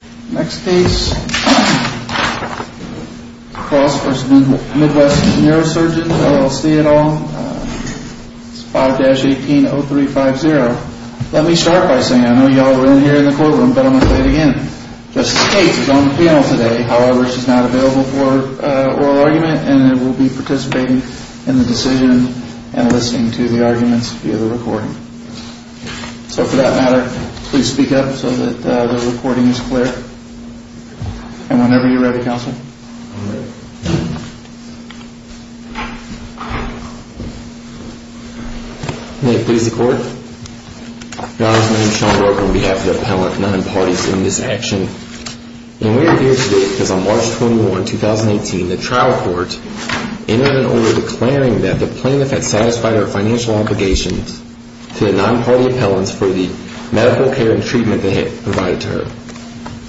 5-18-0350. Let me start by saying I know y'all were in here in the courtroom, but I'm going to say it again. Justice Gates is on the panel today. However, she's not available for oral argument and will be participating in the decision and listening to the arguments via the recording. So for that matter, please speak up so that the recording is clear. And whenever you're ready, Counselor.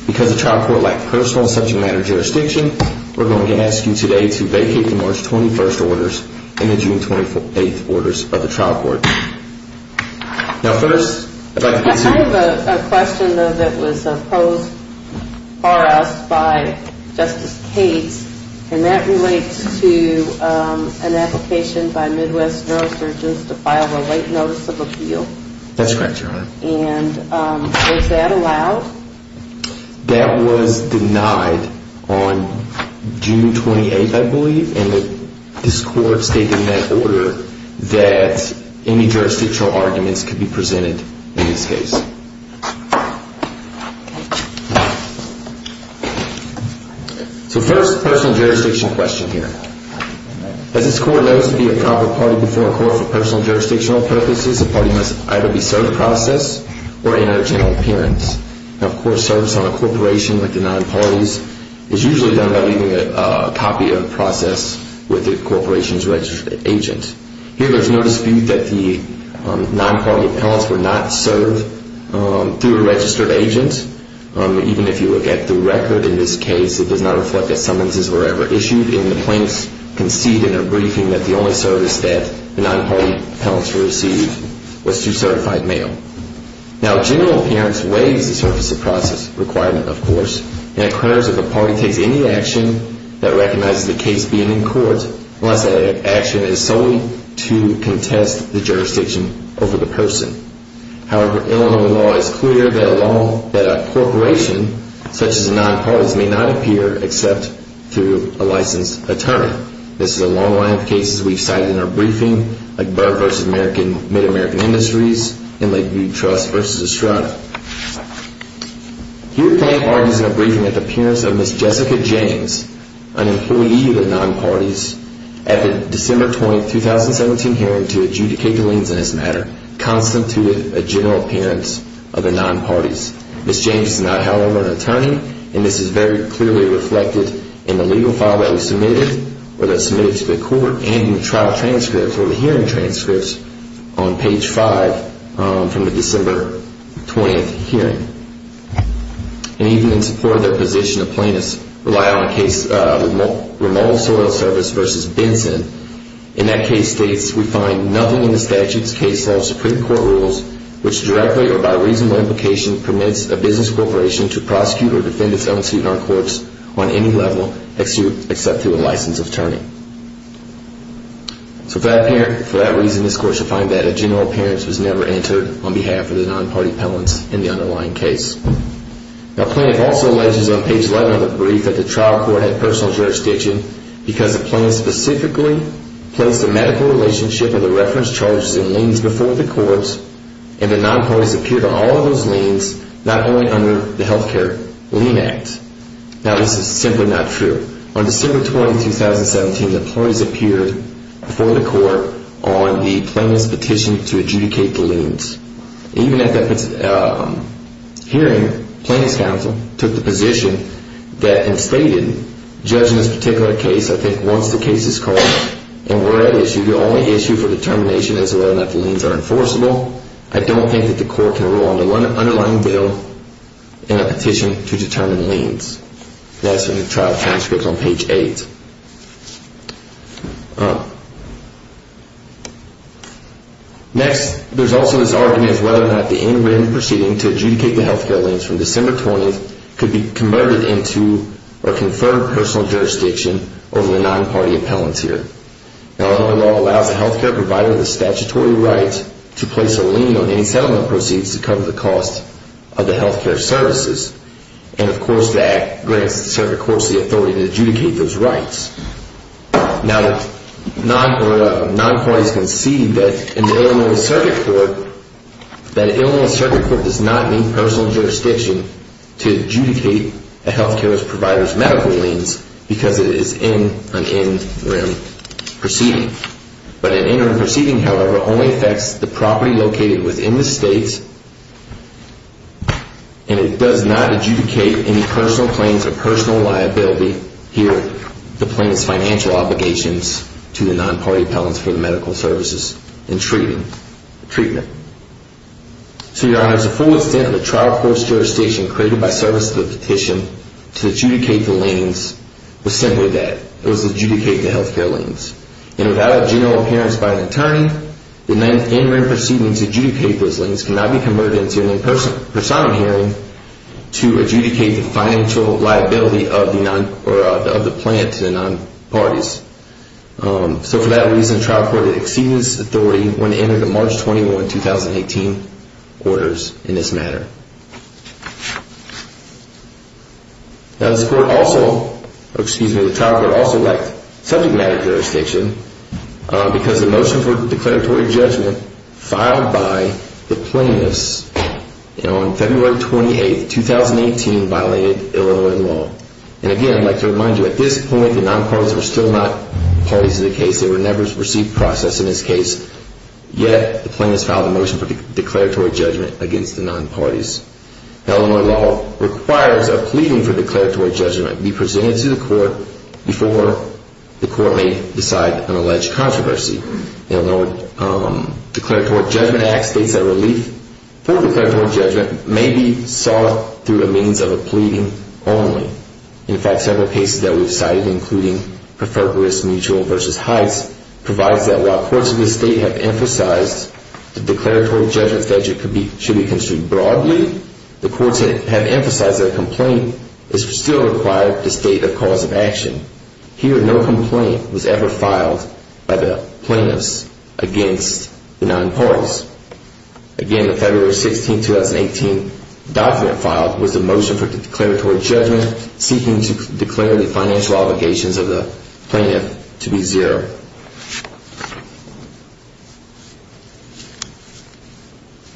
Because the trial court lacked personal subject matter jurisdiction, we're going to ask you today to vacate the March 21st orders and the June 28th orders of the trial court. Now first, I'd like to get to... I have a question, though, that was posed for us by Justice Gates, and that relates to an application by Midwest Neurosurgeons to file a late notice of appeal. That's correct, Your Honor. And was that allowed? That was denied on June 28th, I believe, and this Court stated in that order that any jurisdictional arguments could be presented in this case. So first, personal jurisdiction question here. As this Court knows to be a proper party before a court for personal jurisdictional purposes, a party must either be served in the process or in a general appearance. Now, a court serves on a corporation like the nine parties. It's usually done by leaving a copy of the process with the corporation's registered agent. Here, there's no dispute that the non-party appellants were not served through a registered agent. Even if you look at the record in this case, it does not reflect that summonses were ever issued, and the plaintiffs concede in their briefing that the only service that the non-party appellants received was through certified mail. Now, general appearance waives the service of process requirement, of course, and it occurs that the party takes any action that recognizes the case being in court unless that action is solely to contest the jurisdiction over the person. However, Illinois law is clear that a corporation such as a non-party may not appear except through a licensed attorney. This is a long line of cases we've cited in our briefing, like Burr v. MidAmerican Industries and like Weed Trust v. Estrada. Here, the plaintiff argues in her briefing that the appearance of Ms. Jessica James, an employee of the non-parties, at the December 20, 2017 hearing to adjudicate the liens in this matter, constituted a general appearance of the non-parties. Ms. James is not, however, an attorney, and this is very clearly reflected in the legal file that we submitted, or that's submitted to the court, and in the trial transcripts or the hearing transcripts on page 5 from the December 20 hearing. And even in support of their position, the plaintiffs rely on a case of remote soil service v. Benson. In that case states, we find nothing in the statute's case law, Supreme Court rules, which directly or by reasonable implication permits a business corporation to prosecute or defend its own suit in our courts on any level except through a licensed attorney. So for that reason, this court should find that a general appearance was never entered on behalf of the non-party appellants in the underlying case. The plaintiff also alleges on page 11 of the brief that the trial court had personal jurisdiction because the plaintiff specifically placed the medical relationship of the reference charges and liens before the courts, and the non-parties appeared on all of those liens, not only under the Health Care Lien Act. Now this is simply not true. On December 20, 2017, the plaintiffs appeared before the court on the plaintiff's petition to adjudicate the liens. Even at that hearing, plaintiffs counsel took the position that, and stated, judging this particular case, I think once the case is called and we're at issue, the only issue for determination is whether or not the liens are enforceable, I don't think that the court can rule on the underlying bill in a petition to determine liens. That's in the trial transcript on page 8. Next, there's also this argument as to whether or not the end-to-end proceeding to adjudicate the health care liens from December 20 could be converted into or conferred personal jurisdiction over the non-party appellant here. Now Illinois law allows a health care provider the statutory right to place a lien on any settlement proceeds to cover the cost of the health care services, and of course the act grants the circuit court the authority to adjudicate those rights. Now non-parties can see that in the Illinois circuit court, that Illinois circuit court does not need personal jurisdiction to adjudicate a health care provider's medical liens because it is an interim proceeding. But an interim proceeding, however, only affects the property located within the state, and it does not adjudicate any personal claims or personal liability, here the plaintiff's financial obligations to the non-party appellants for the medical services and treatment. So your honor, the full extent of the trial court's jurisdiction created by service to the petition to adjudicate the liens was simply that. It was to adjudicate the health care liens. And without a general appearance by an attorney, the interim proceeding to adjudicate those liens cannot be converted into an impersonal hearing to adjudicate the financial liability of the plant to the non-parties. So for that reason, the trial court exceeded its authority when it entered the March 21, 2018, orders in this matter. Now this court also, excuse me, the trial court also lacked subject matter jurisdiction because the motion for declaratory judgment filed by the plaintiffs on February 28, 2018 violated Illinois law. And again, I'd like to remind you, at this point, the non-parties were still not parties to the case. They were never perceived process in this case. Yet the plaintiffs filed a motion for declaratory judgment against the non-parties. Illinois law requires a pleading for declaratory judgment be presented to the court before the court may decide an alleged controversy. Illinois declaratory judgment act states that relief for declaratory judgment may be sought through a means of a pleading only. In fact, several cases that we've cited, including Preferred Risk Mutual v. Heights, provides that while courts of the state have emphasized that declaratory judgment statute should be construed broadly, the courts have emphasized that a complaint is still required at the state of cause of action. Here, no complaint was ever filed by the plaintiffs against the non-parties. Again, the February 16, 2018 document filed was the motion for declaratory judgment seeking to declare the financial obligations of the plaintiff to be zero.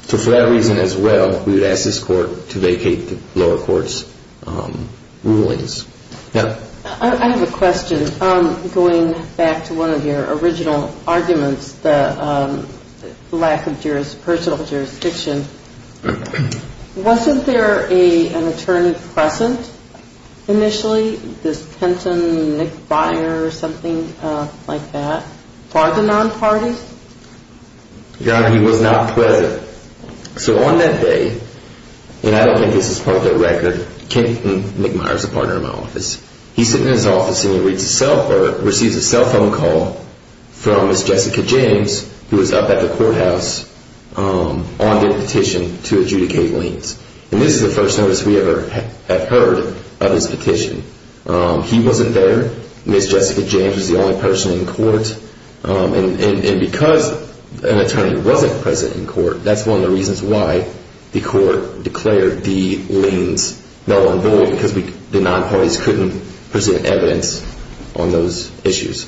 So for that reason as well, we would ask this court to vacate the lower court's rulings. I have a question. Going back to one of your original arguments, the lack of personal jurisdiction, wasn't there an attorney present initially, this Kenton, Nick Meyers, something like that, for the non-parties? Yeah, he was not present. So on that day, and I don't think this is part of the record, Kenton, Nick Meyers, a partner in my office, he's sitting in his office and he receives a cell phone call from Miss Jessica James, who was up at the courthouse on their petition to adjudicate liens. And this is the first notice we ever have heard of his petition. He wasn't there. Miss Jessica James was the only person in court. And because an attorney wasn't present in court, that's one of the reasons why the court declared the liens null and void, because the non-parties couldn't present evidence on those issues.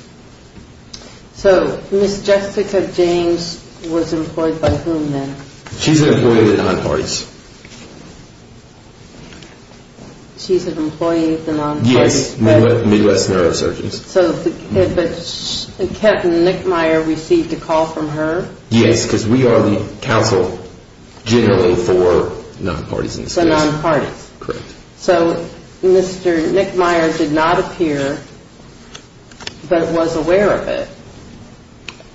So Miss Jessica James was employed by whom then? She's an employee of the non-parties. She's an employee of the non-parties. Yes, Midwest Neurosurgeons. But Kenton, Nick Meyers received a call from her? Yes, because we are the counsel generally for non-parties in this case. For non-parties. Correct. So Mr. Nick Meyers did not appear, but was aware of it,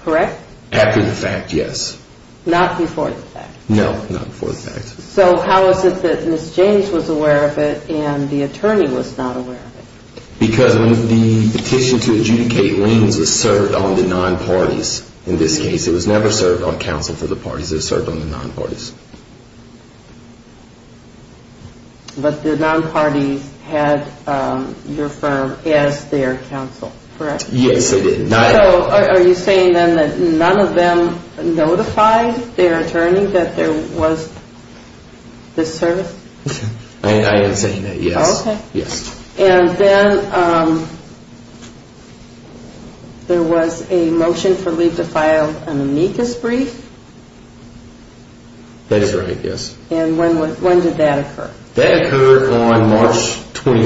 correct? After the fact, yes. Not before the fact. No, not before the fact. So how is it that Miss James was aware of it and the attorney was not aware of it? Because the petition to adjudicate liens was served on the non-parties in this case. It was never served on counsel for the parties. It was served on the non-parties. But the non-parties had your firm as their counsel, correct? Yes, they did. So are you saying then that none of them notified their attorney that there was this service? I am saying that, yes. Okay. And then there was a motion for Lee to file an amicus brief? That is right, yes. And when did that occur? That occurred on March 21,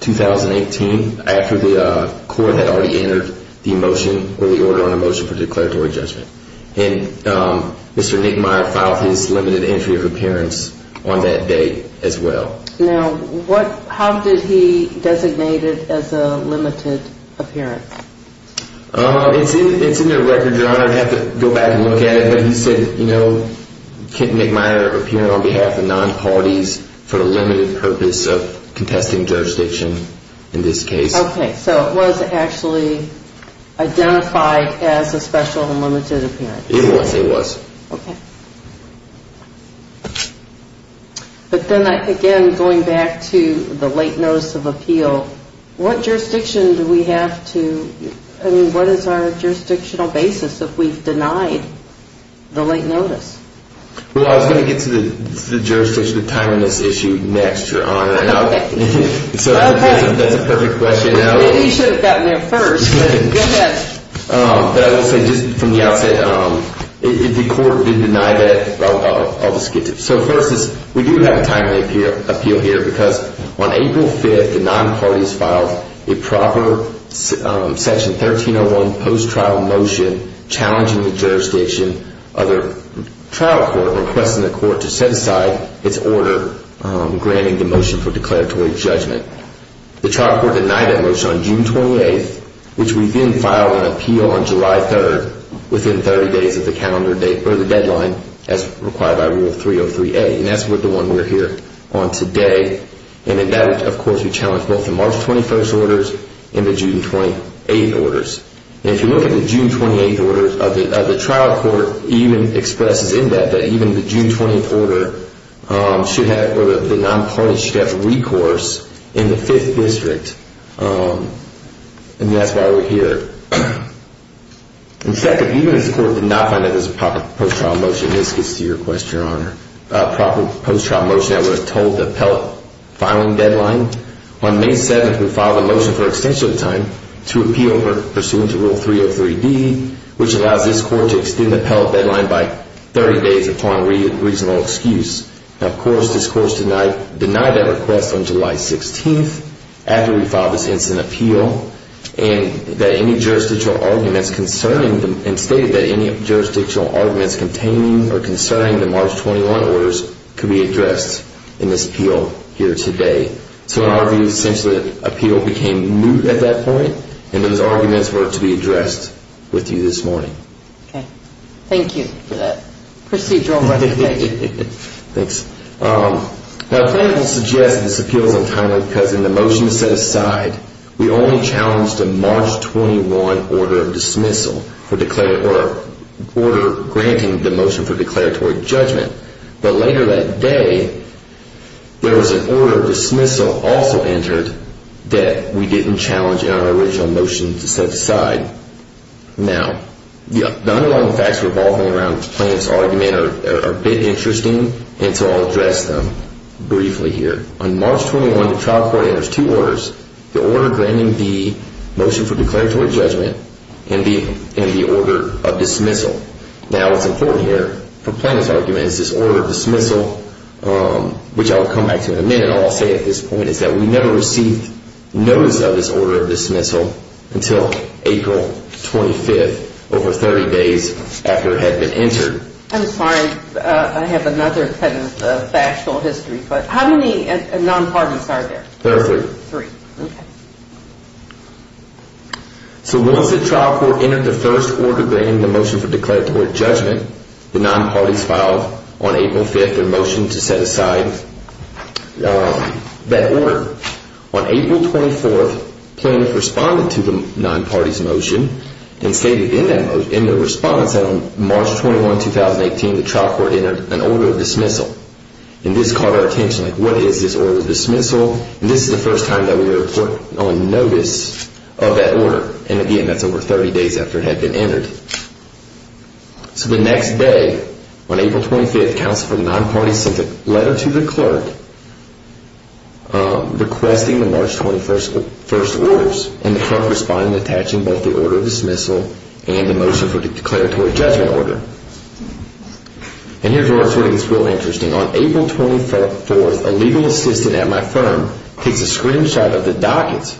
2018, after the court had already entered the motion or the order on a motion for declaratory judgment. And Mr. Nick Meyer filed his limited entry of appearance on that date as well. Now, how did he designate it as a limited appearance? It is in the record, Your Honor. I would have to go back and look at it. He said, you know, Nick Meyer appeared on behalf of non-parties for the limited purpose of contesting jurisdiction in this case. Okay. So it was actually identified as a special and limited appearance. It was. It was. Okay. But then again, going back to the late notice of appeal, what jurisdiction do we have to, I mean, what is our jurisdictional basis if we have denied the late notice? Well, I was going to get to the jurisdiction of timing this issue next, Your Honor. Okay. So that is a perfect question now. Maybe you should have gotten there first, but go ahead. But I will say just from the outset, if the court did deny that, I will just get to it. So first, we do have a timely appeal here because on April 5th, the non-parties filed a proper Section 1301 post-trial motion challenging the jurisdiction of the trial court, requesting the court to set aside its order granting the motion for declaratory judgment. The trial court denied that motion on June 28th, which we then filed an appeal on July 3rd within 30 days of the deadline as required by Rule 303A. And that's the one we're here on today. And in that, of course, we challenged both the March 21st orders and the June 28th orders. And if you look at the June 28th orders, the trial court even expresses in that that even the June 20th order, the non-parties should have recourse in the 5th district. And that's why we're here. In fact, even if the court did not find that this was a proper post-trial motion, this gets to your question, Your Honor, a proper post-trial motion that would have told the appellate filing deadline, on May 7th, we filed a motion for extension of time to appeal pursuant to Rule 303B, which allows this court to extend the appellate deadline by 30 days upon reasonable excuse. Now, of course, this court denied that request on July 16th after we filed this instant appeal, and stated that any jurisdictional arguments concerning the March 21st orders could be addressed in this appeal here today. So in our view, essentially, the appeal became moot at that point, and those arguments were to be addressed with you this morning. Okay. Thank you for that procedural recommendation. Thanks. Now, the plaintiff will suggest this appeal is untimely because in the motion set aside, we only challenged a March 21 order of dismissal or order granting the motion for declaratory judgment. But later that day, there was an order of dismissal also entered that we didn't challenge in our original motion to set aside. Now, the underlying facts revolving around the plaintiff's argument are a bit interesting, and so I'll address them briefly here. On March 21, the trial court enters two orders, the order granting the motion for declaratory judgment and the order of dismissal. Now, what's important here for the plaintiff's argument is this order of dismissal, which I'll come back to in a minute. All I'll say at this point is that we never received notice of this order of dismissal until April 25th, over 30 days after it had been entered. I'm sorry. I have another kind of factual history, but how many non-pardons are there? Three. Three. Okay. So once the trial court entered the first order granting the motion for declaratory judgment, the non-pardons filed on April 5th their motion to set aside that order. On April 24th, plaintiff responded to the non-pardons motion and stated in their response that on March 21, 2018, the trial court entered an order of dismissal. And this caught our attention. What is this order of dismissal? And this is the first time that we were put on notice of that order. And again, that's over 30 days after it had been entered. So the next day, on April 25th, counsel for the non-pardons sent a letter to the clerk requesting the March 21st orders. And the clerk responded, attaching both the order of dismissal and the motion for declaratory judgment order. And here's where it gets really interesting. On April 24th, a legal assistant at my firm takes a screenshot of the dockets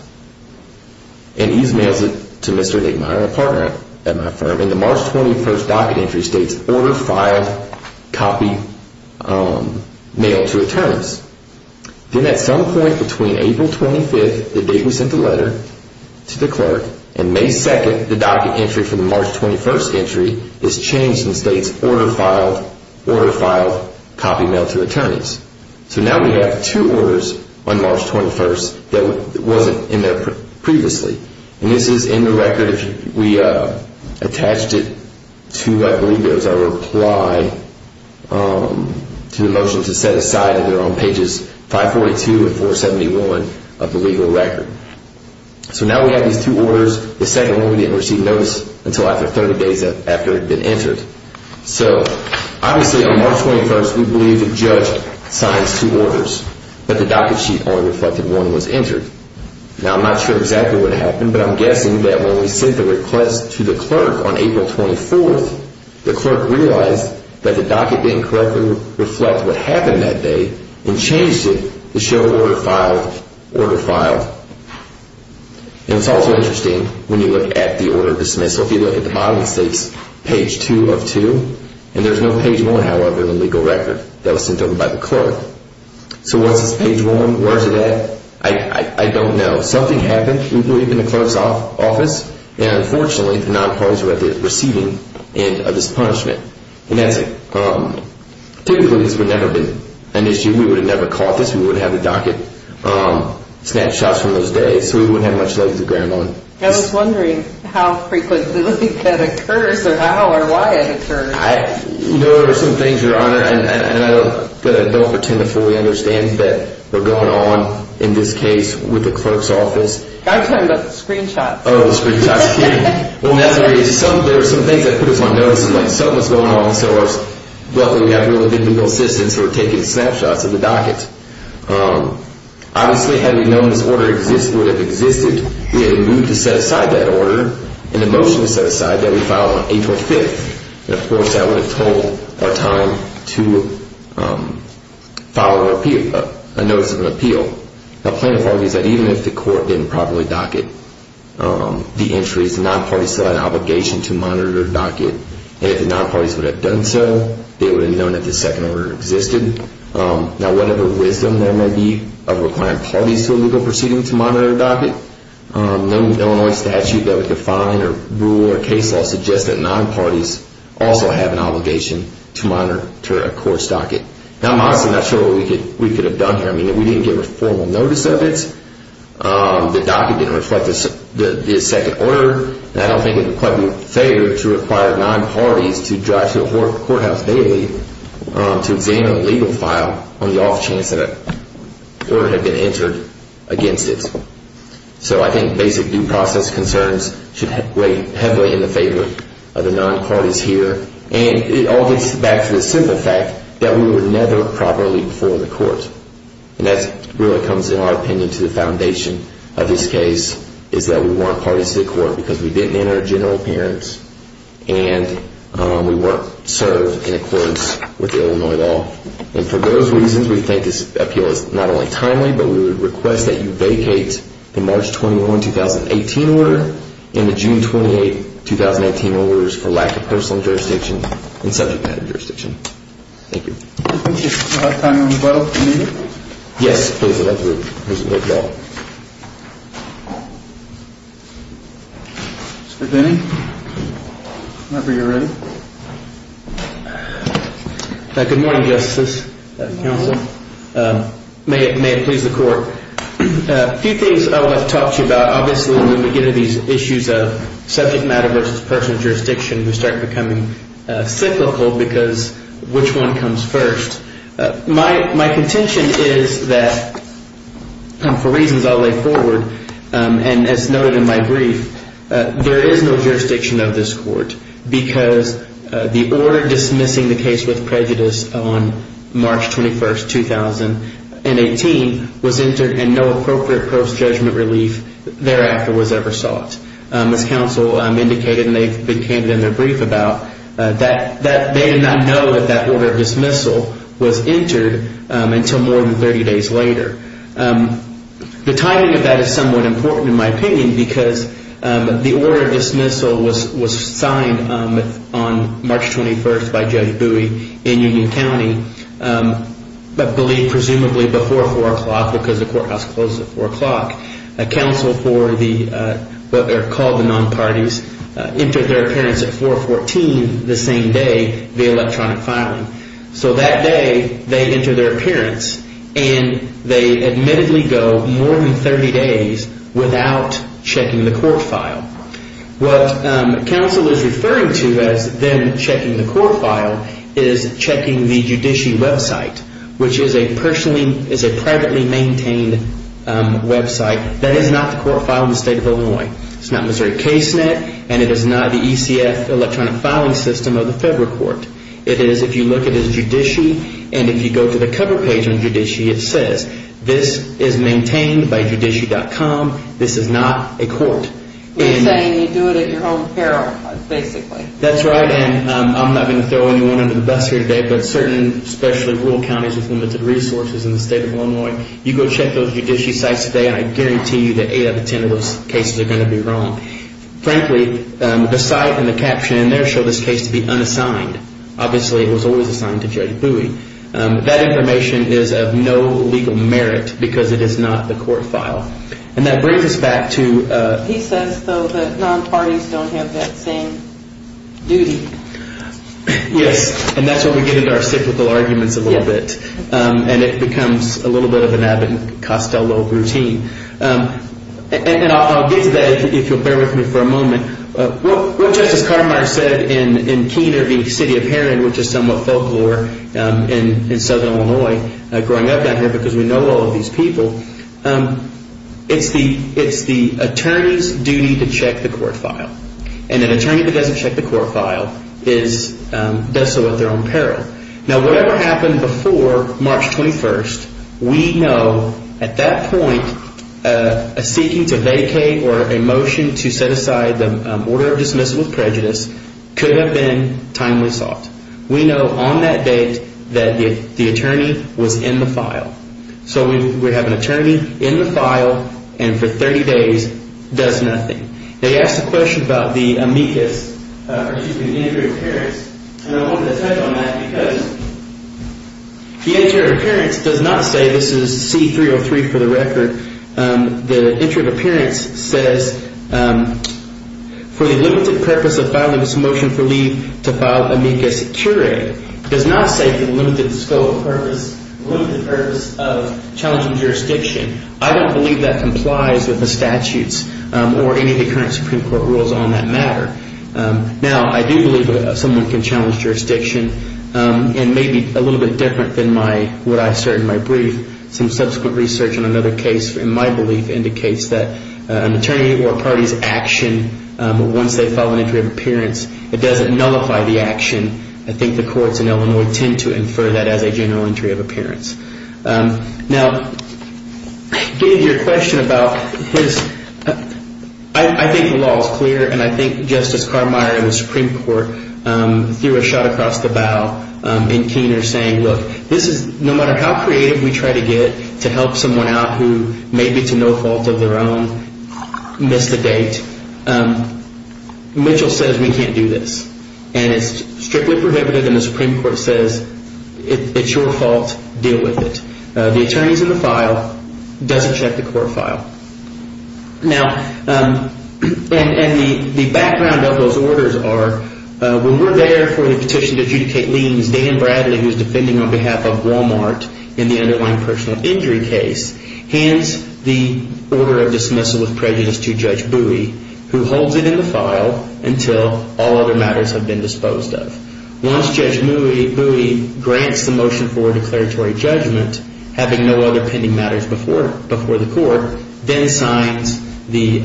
and e-mails it to Mr. and Mrs. Meier, a partner at my firm. And the March 21st docket entry states, order filed, copy, mail to attorneys. Then at some point between April 25th, the date we sent the letter to the clerk, and May 2nd, the docket entry for the March 21st entry is changed and states, order filed, copy, mail to attorneys. So now we have two orders on March 21st that wasn't in there previously. And this is in the record. We attached it to, I believe it was our reply to the motion to set aside on pages 542 and 471 of the legal record. So now we have these two orders. The second one we didn't receive notice until after 30 days after it had been entered. So obviously on March 21st, we believe the judge signed two orders, but the docket sheet only reflected one was entered. Now I'm not sure exactly what happened, but I'm guessing that when we sent the request to the clerk on April 24th, the clerk realized that the docket didn't correctly reflect what happened that day and changed it to show order filed, order filed. And it's also interesting when you look at the order of dismissal. If you look at the bottom, it states page 2 of 2. And there's no page 1, however, in the legal record that was sent over by the clerk. So what's this page 1? Where is it at? I don't know. Something happened. We believe in the clerk's office. And unfortunately, the nonpartisans were at the receiving end of this punishment. And that's typically has never been an issue. We would have never caught this. We would have the docket snapshots from those days. So we wouldn't have much leg to grab on. I was wondering how frequently that occurs or how or why it occurs. You know, there are some things, Your Honor, that I don't pretend to fully understand that were going on in this case with the clerk's office. I'm talking about the screenshots. Oh, the screenshots. Well, there were some things that put us on notice, like something was going on. So luckily, we have really good legal assistance, so we're taking snapshots of the docket. Obviously, had we known this order would have existed, we had a mood to set aside that order, and a motion to set aside that we file on April 5th. And, of course, that would have told our time to file an appeal, a notice of an appeal. The plaintiff argues that even if the court didn't properly docket the entries, the nonpartisans still had an obligation to monitor the docket. And if the nonpartisans would have done so, they would have known that this second order existed. Now, whatever wisdom there may be of requiring parties to a legal proceeding to monitor a docket, no Illinois statute that would define or rule or case law suggests that nonparties also have an obligation to monitor a court's docket. Now, I'm honestly not sure what we could have done here. I mean, if we didn't get formal notice of it, the docket didn't reflect the second order, I don't think it would quite be fair to require nonparties to drive to a courthouse day to examine a legal file on the off chance that an order had been entered against it. So I think basic due process concerns should weigh heavily in the favor of the nonparties here. And it all gets back to the simple fact that we were never properly before the court. And that really comes, in our opinion, to the foundation of this case, is that we weren't parties to the court because we didn't enter a general appearance and we weren't served in accordance with Illinois law. And for those reasons, we think this appeal is not only timely, but we would request that you vacate the March 21, 2018 order and the June 28, 2018 orders for lack of personal jurisdiction and subject matter jurisdiction. Thank you. I think we have time for a rebuttal, if you need it. Yes, please, I'd like to present the appeal. Mr. Denny, whenever you're ready. Good morning, justices, counsel. May it please the court. A few things I want to talk to you about. Obviously, when we get into these issues of subject matter versus personal jurisdiction, we start becoming cyclical because which one comes first. My contention is that for reasons I'll lay forward, and as noted in my brief, there is no jurisdiction of this court because the order dismissing the case with prejudice on March 21, 2018 was entered and no appropriate post-judgment relief thereafter was ever sought. As counsel indicated, and they've been candid in their brief about that, they did not know that that order of dismissal was entered until more than 30 days later. The timing of that is somewhat important, in my opinion, because the order of dismissal was signed on March 21 by Judge Bowie in Union County, but presumably before 4 o'clock because the courthouse closes at 4 o'clock. Counsel for what are called the non-parties entered their appearance at 4.14 the same day the electronic filing. That day they enter their appearance, and they admittedly go more than 30 days without checking the court file. What counsel is referring to as them checking the court file is checking the judiciary website, which is a privately maintained website that is not the court file in the state of Illinois. It's not Missouri case net, and it is not the ECF electronic filing system of the federal court. It is, if you look, it is judiciary, and if you go to the cover page on judiciary, it says, this is maintained by judiciary.com. This is not a court. You're saying you do it at your own peril, basically. That's right, and I'm not going to throw anyone under the bus here today, but certain, especially rural counties with limited resources in the state of Illinois, you go check those judiciary sites today, and I guarantee you that 8 out of 10 of those cases are going to be wrong. Frankly, the site and the caption in there show this case to be unassigned. Obviously, it was always assigned to J. Bowie. That information is of no legal merit because it is not the court file, and that brings us back to... He says, though, that non-parties don't have that same duty. Yes, and that's what we get into our cyclical arguments a little bit, and it becomes a little bit of an Abbott and Costello routine, and I'll get to that if you'll bear with me for a moment. What Justice Cartermeier said in Keener v. City of Heron, which is somewhat folklore in southern Illinois growing up down here because we know all of these people, it's the attorney's duty to check the court file, and an attorney that doesn't check the court file does so at their own peril. Now, whatever happened before March 21st, we know at that point, a seeking to vacate or a motion to set aside the order of dismissal with prejudice could have been timely sought. We know on that date that the attorney was in the file. So we have an attorney in the file and for 30 days does nothing. Now, you asked a question about the amicus, particularly the injury of parents, and I wanted to touch on that because the injury of parents does not say this is C-303 for the record. The injury of parents says for the limited purpose of filing this motion for leave to file amicus curiae does not say for the limited purpose of challenging jurisdiction. I don't believe that complies with the statutes or any of the current Supreme Court rules on that matter. Now, I do believe that someone can challenge jurisdiction and maybe a little bit different than what I assert in my brief. Some subsequent research on another case, in my belief, indicates that an attorney or a party's action, once they file an injury of appearance, it doesn't nullify the action. I think the courts in Illinois tend to infer that as a general injury of appearance. Now, to get to your question about this, I think the law is clear and I think Justice Carmire in the Supreme Court threw a shot across the bow in Keener saying, look, no matter how creative we try to get to help someone out who may be to no fault of their own miss the date, Mitchell says we can't do this. And it's strictly prohibited. And the Supreme Court says it's your fault. Deal with it. The attorneys in the file doesn't check the court file. Now, and the background of those orders are when we're there for the petition to adjudicate liens, Dan Bradley, who's defending on behalf of Walmart in the underlying personal injury case, hands the order of dismissal with prejudice to Judge Bowie, who holds it in the file until all other matters have been disposed of. Once Judge Bowie grants the motion for declaratory judgment, having no other pending matters before the court, then signs the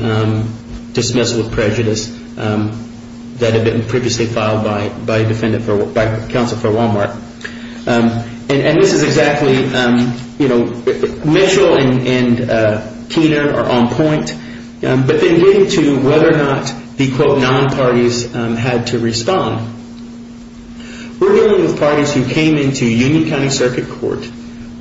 dismissal of prejudice that had been previously filed by counsel for Walmart. And this is exactly, you know, Mitchell and Keener are on point. But then getting to whether or not the quote non-parties had to respond. We're dealing with parties who came into Union County Circuit Court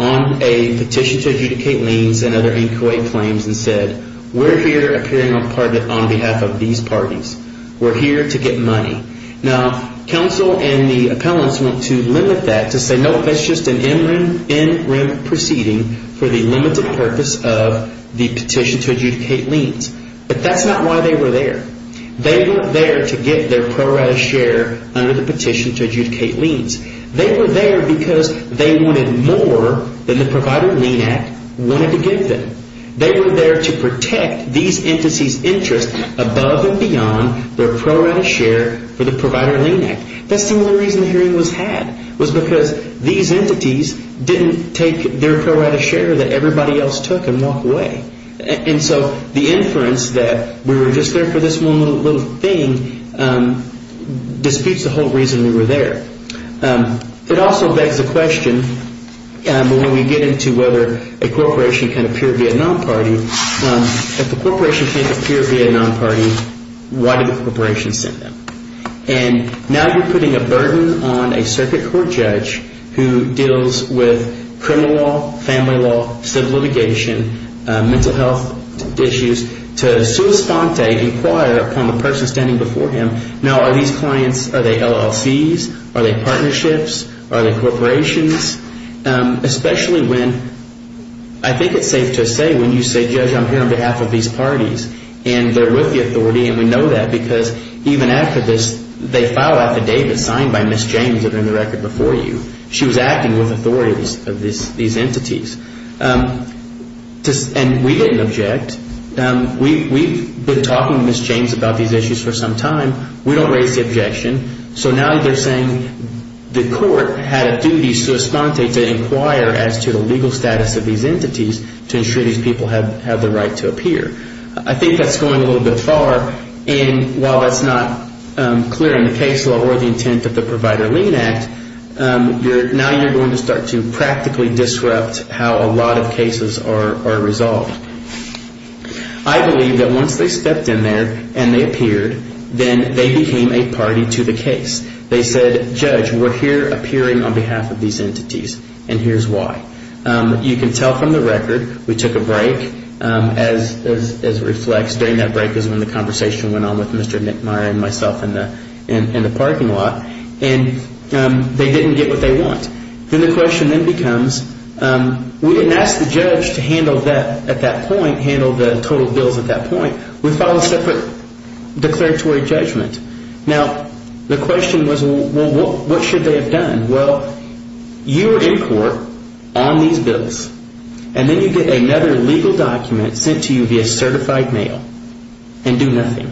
on a petition to adjudicate liens and other inchoate claims and said we're here appearing on behalf of these parties. We're here to get money. Now, counsel and the appellants want to limit that to say, nope, that's just an interim proceeding for the limited purpose of the petition to adjudicate liens. But that's not why they were there. They weren't there to get their pro rata share under the petition to adjudicate liens. They were there because they wanted more than the Provider Lien Act wanted to give them. They were there to protect these entities' interest above and beyond their pro rata share for the Provider Lien Act. That's the only reason the hearing was had, was because these entities didn't take their pro rata share that everybody else took and walk away. And so the inference that we were just there for this one little thing disputes the whole reason we were there. It also begs the question, when we get into whether a corporation can appear at a non-party, if a corporation can't appear at a non-party, why did the corporation send them? And now you're putting a burden on a circuit court judge who deals with criminal law, family law, civil litigation, mental health issues, to sua sponte, inquire upon the person standing before him, now are these clients, are they LLCs, are they partnerships, are they corporations? Especially when, I think it's safe to say, when you say, Judge, I'm here on behalf of these parties, and they're with the authority and we know that because even after this, they file affidavits signed by Ms. James that are in the record before you. She was acting with authority of these entities. And we didn't object. We've been talking to Ms. James about these issues for some time. We don't raise the objection. So now they're saying the court had a duty sua sponte to inquire as to the legal status of these entities to ensure these people have the right to appear. I think that's going a little bit far. And while that's not clear in the case law or the intent of the Provider Lien Act, now you're going to start to practically disrupt how a lot of cases are resolved. I believe that once they stepped in there and they appeared, then they became a party to the case. They said, Judge, we're here appearing on behalf of these entities, and here's why. You can tell from the record, we took a break as it reflects. During that break is when the conversation went on with Mr. Nick Meyer and myself in the parking lot. And they didn't get what they want. Then the question then becomes, we didn't ask the judge to handle that at that point, handle the total bills at that point. We filed a separate declaratory judgment. Now, the question was, well, what should they have done? Well, you were in court on these bills. And then you get another legal document sent to you via certified mail and do nothing.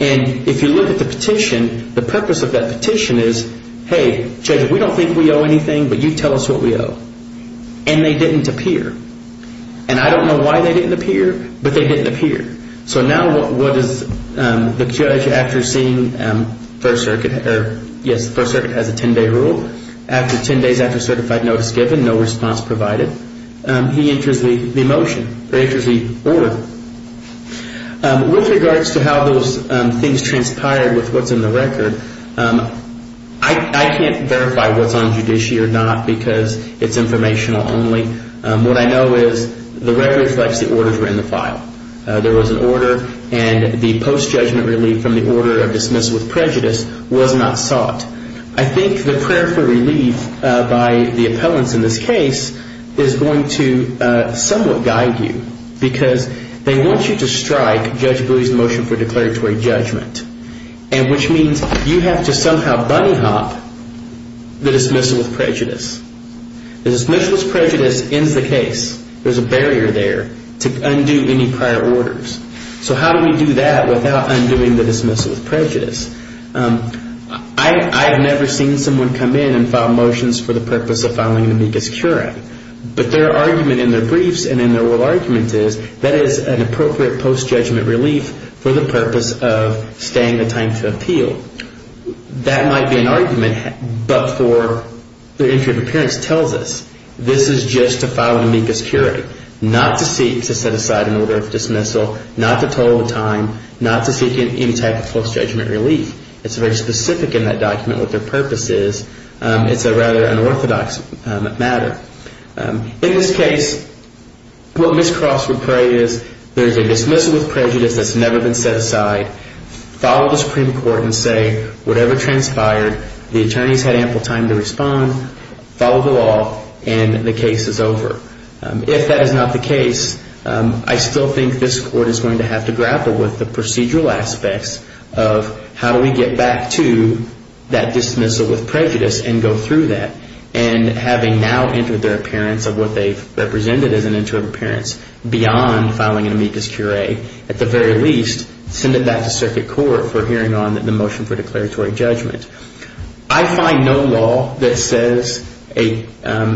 And if you look at the petition, the purpose of that petition is, hey, Judge, we don't think we owe anything, but you tell us what we owe. And they didn't appear. And I don't know why they didn't appear, but they didn't appear. So now what does the judge, after seeing First Circuit has a 10-day rule, after 10 days after certified notice given, no response provided, he enters the motion, he enters the order. With regards to how those things transpired with what's in the record, I can't verify what's on judiciary or not because it's informational only. What I know is the rare reflex, the orders were in the file. There was an order, and the post-judgment relief from the order of dismissal with prejudice was not sought. I think the prayer for relief by the appellants in this case is going to somewhat guide you because they want you to strike Judge Bowie's motion for declaratory judgment, which means you have to somehow bunnyhop the dismissal with prejudice. The dismissal with prejudice ends the case. There's a barrier there to undo any prior orders. So how do we do that without undoing the dismissal with prejudice? I have never seen someone come in and file motions for the purpose of filing an amicus curiae, but their argument in their briefs and in their oral argument is that is an appropriate post-judgment relief for the purpose of staying the time to appeal. That might be an argument, but for the entry of appearance tells us this is just a filing amicus curiae, not to seek to set aside an order of dismissal, not to total the time, not to seek any type of post-judgment relief. It's very specific in that document what their purpose is. It's a rather unorthodox matter. In this case, what Ms. Cross would pray is there's a dismissal with prejudice that's never been set aside, follow the Supreme Court and say whatever transpired, the attorneys had ample time to respond, follow the law, and the case is over. If that is not the case, I still think this court is going to have to grapple with the procedural aspects of how do we get back to that dismissal with prejudice and go through that. And having now entered their appearance of what they've represented as an interim appearance beyond filing an amicus curiae, at the very least, send it back to circuit court for hearing on the motion for declaratory judgment. I find no law that says, and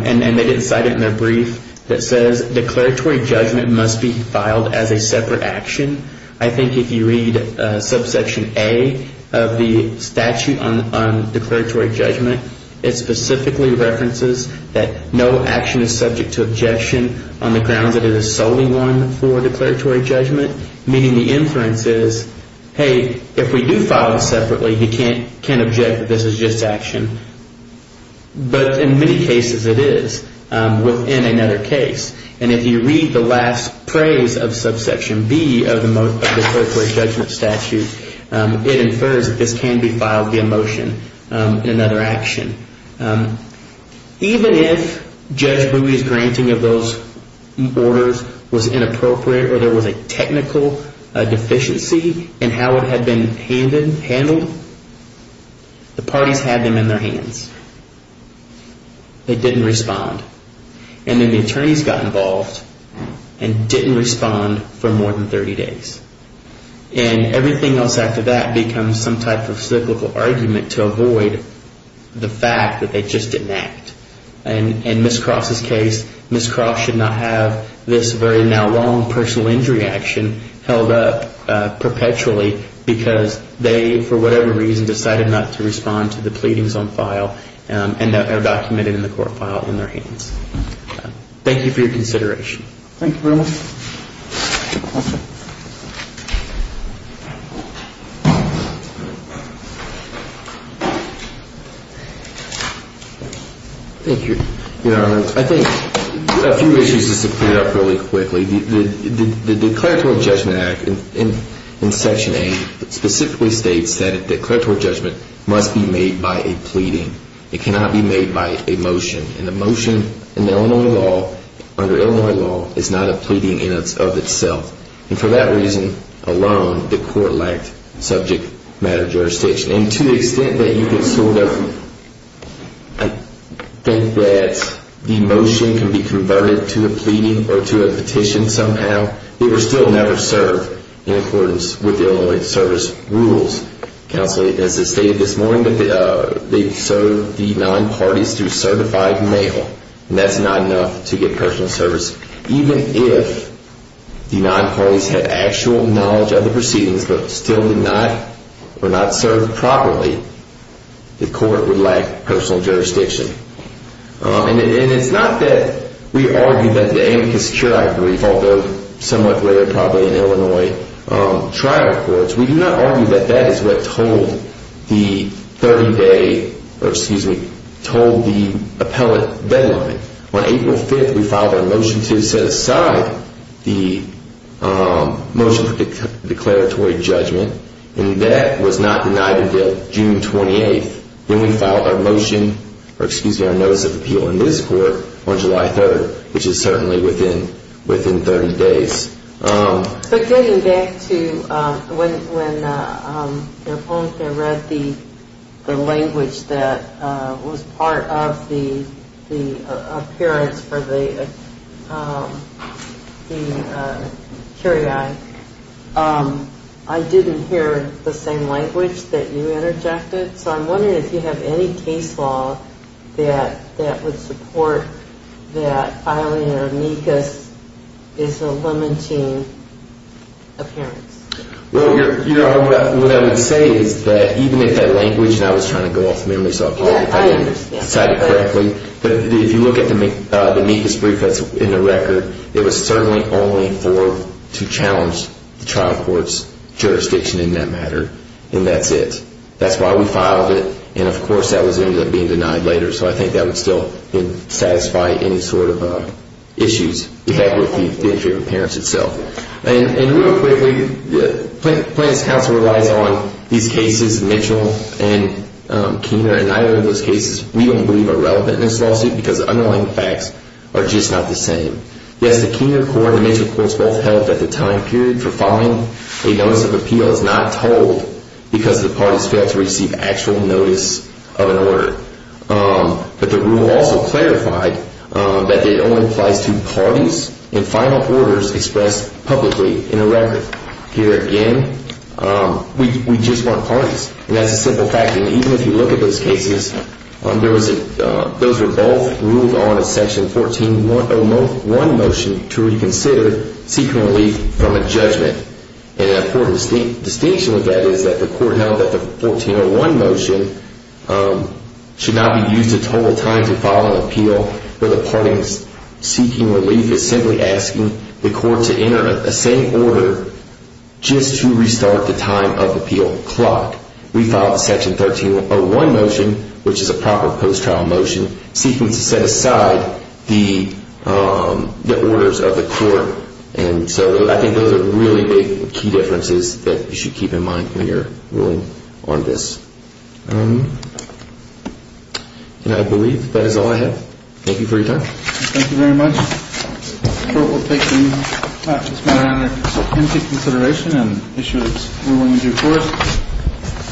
they didn't cite it in their brief, that says declaratory judgment must be filed as a separate action. I think if you read subsection A of the statute on declaratory judgment, it specifically references that no action is subject to objection on the grounds that it is solely one for declaratory judgment, meaning the inference is, hey, if we do file it separately, you can't object that this is just action. But in many cases it is within another case. And if you read the last phrase of subsection B of the most declaratory judgment statute, it infers that this can be filed via motion in another action. Even if Judge Booey's granting of those orders was inappropriate or there was a technical deficiency in how it had been handled, the parties had them in their hands. They didn't respond. And then the attorneys got involved and didn't respond for more than 30 days. And everything else after that becomes some type of cyclical argument to avoid the fact that they just didn't act. In Ms. Croft's case, Ms. Croft should not have this very now long personal injury action held up perpetually because they, for whatever reason, decided not to respond to the pleadings on file and are documented in the court file in their hands. Thank you for your consideration. Thank you very much. Thank you, Your Honor. I think a few issues just to clear up really quickly. The Declaratory Judgment Act in Section 8 specifically states that a declaratory judgment must be made by a pleading. It cannot be made by a motion. And a motion in Illinois law, under Illinois law, is not a pleading in and of itself. And for that reason alone, the court lacked subject matter jurisdiction. And to the extent that you can sort of think that the motion can be converted to a pleading or to a petition somehow, it will still never serve in accordance with Illinois service rules. Counsel, as it stated this morning, they serve the nine parties through certified mail. And that's not enough to get personal service. Even if the nine parties had actual knowledge of the proceedings but still did not or were not served properly, the court would lack personal jurisdiction. And it's not that we argue that the amicus curiae brief, although somewhat clear probably in Illinois trial courts, we do not argue that that is what told the 30-day or, excuse me, told the appellate deadline. On April 5th, we filed our motion to set aside the motion for declaratory judgment. And that was not denied until June 28th. Then we filed our motion or, excuse me, our notice of appeal in this court on July 3rd, which is certainly within 30 days. But getting back to when your appellant there read the language that was part of the appearance for the curiae, I didn't hear the same language that you interjected. So I'm wondering if you have any case law that would support that filing an amicus is a limiting appearance. Well, what I would say is that even if that language, and I was trying to go off memory so I apologize if I didn't cite it correctly, but if you look at the amicus brief that's in the record, it was certainly only to challenge the trial court's jurisdiction in that matter. And that's it. We filed it. And, of course, that was ended up being denied later. So I think that would still satisfy any sort of issues you have with the appearance itself. And real quickly, Plaintiff's counsel relies on these cases, Mitchell and Keener, and neither of those cases we don't believe are relevant in this lawsuit because the underlying facts are just not the same. Yes, the Keener court and the Mitchell courts both held that the time period for filing a notice of appeal is not told because the parties failed to receive actual notice of an order. But the rule also clarified that it only applies to parties and final orders expressed publicly in a record. Here again, we just want parties. And that's a simple fact. And even if you look at those cases, those were both ruled on as Section 1401 motion to reconsider secretly from a judgment. And an important distinction with that is that the court held that the 1401 motion should not be used to total time to file an appeal where the parties seeking relief is simply asking the court to enter a same order just to restart the time of appeal clock. We filed the Section 1301 motion, which is a proper post-trial motion, seeking to set aside the orders of the court. And so I think those are really big key differences that you should keep in mind when you're ruling on this. And I believe that is all I have. Thank you for your time. Thank you very much. The court will take this matter under intensive consideration and issue its ruling in due course.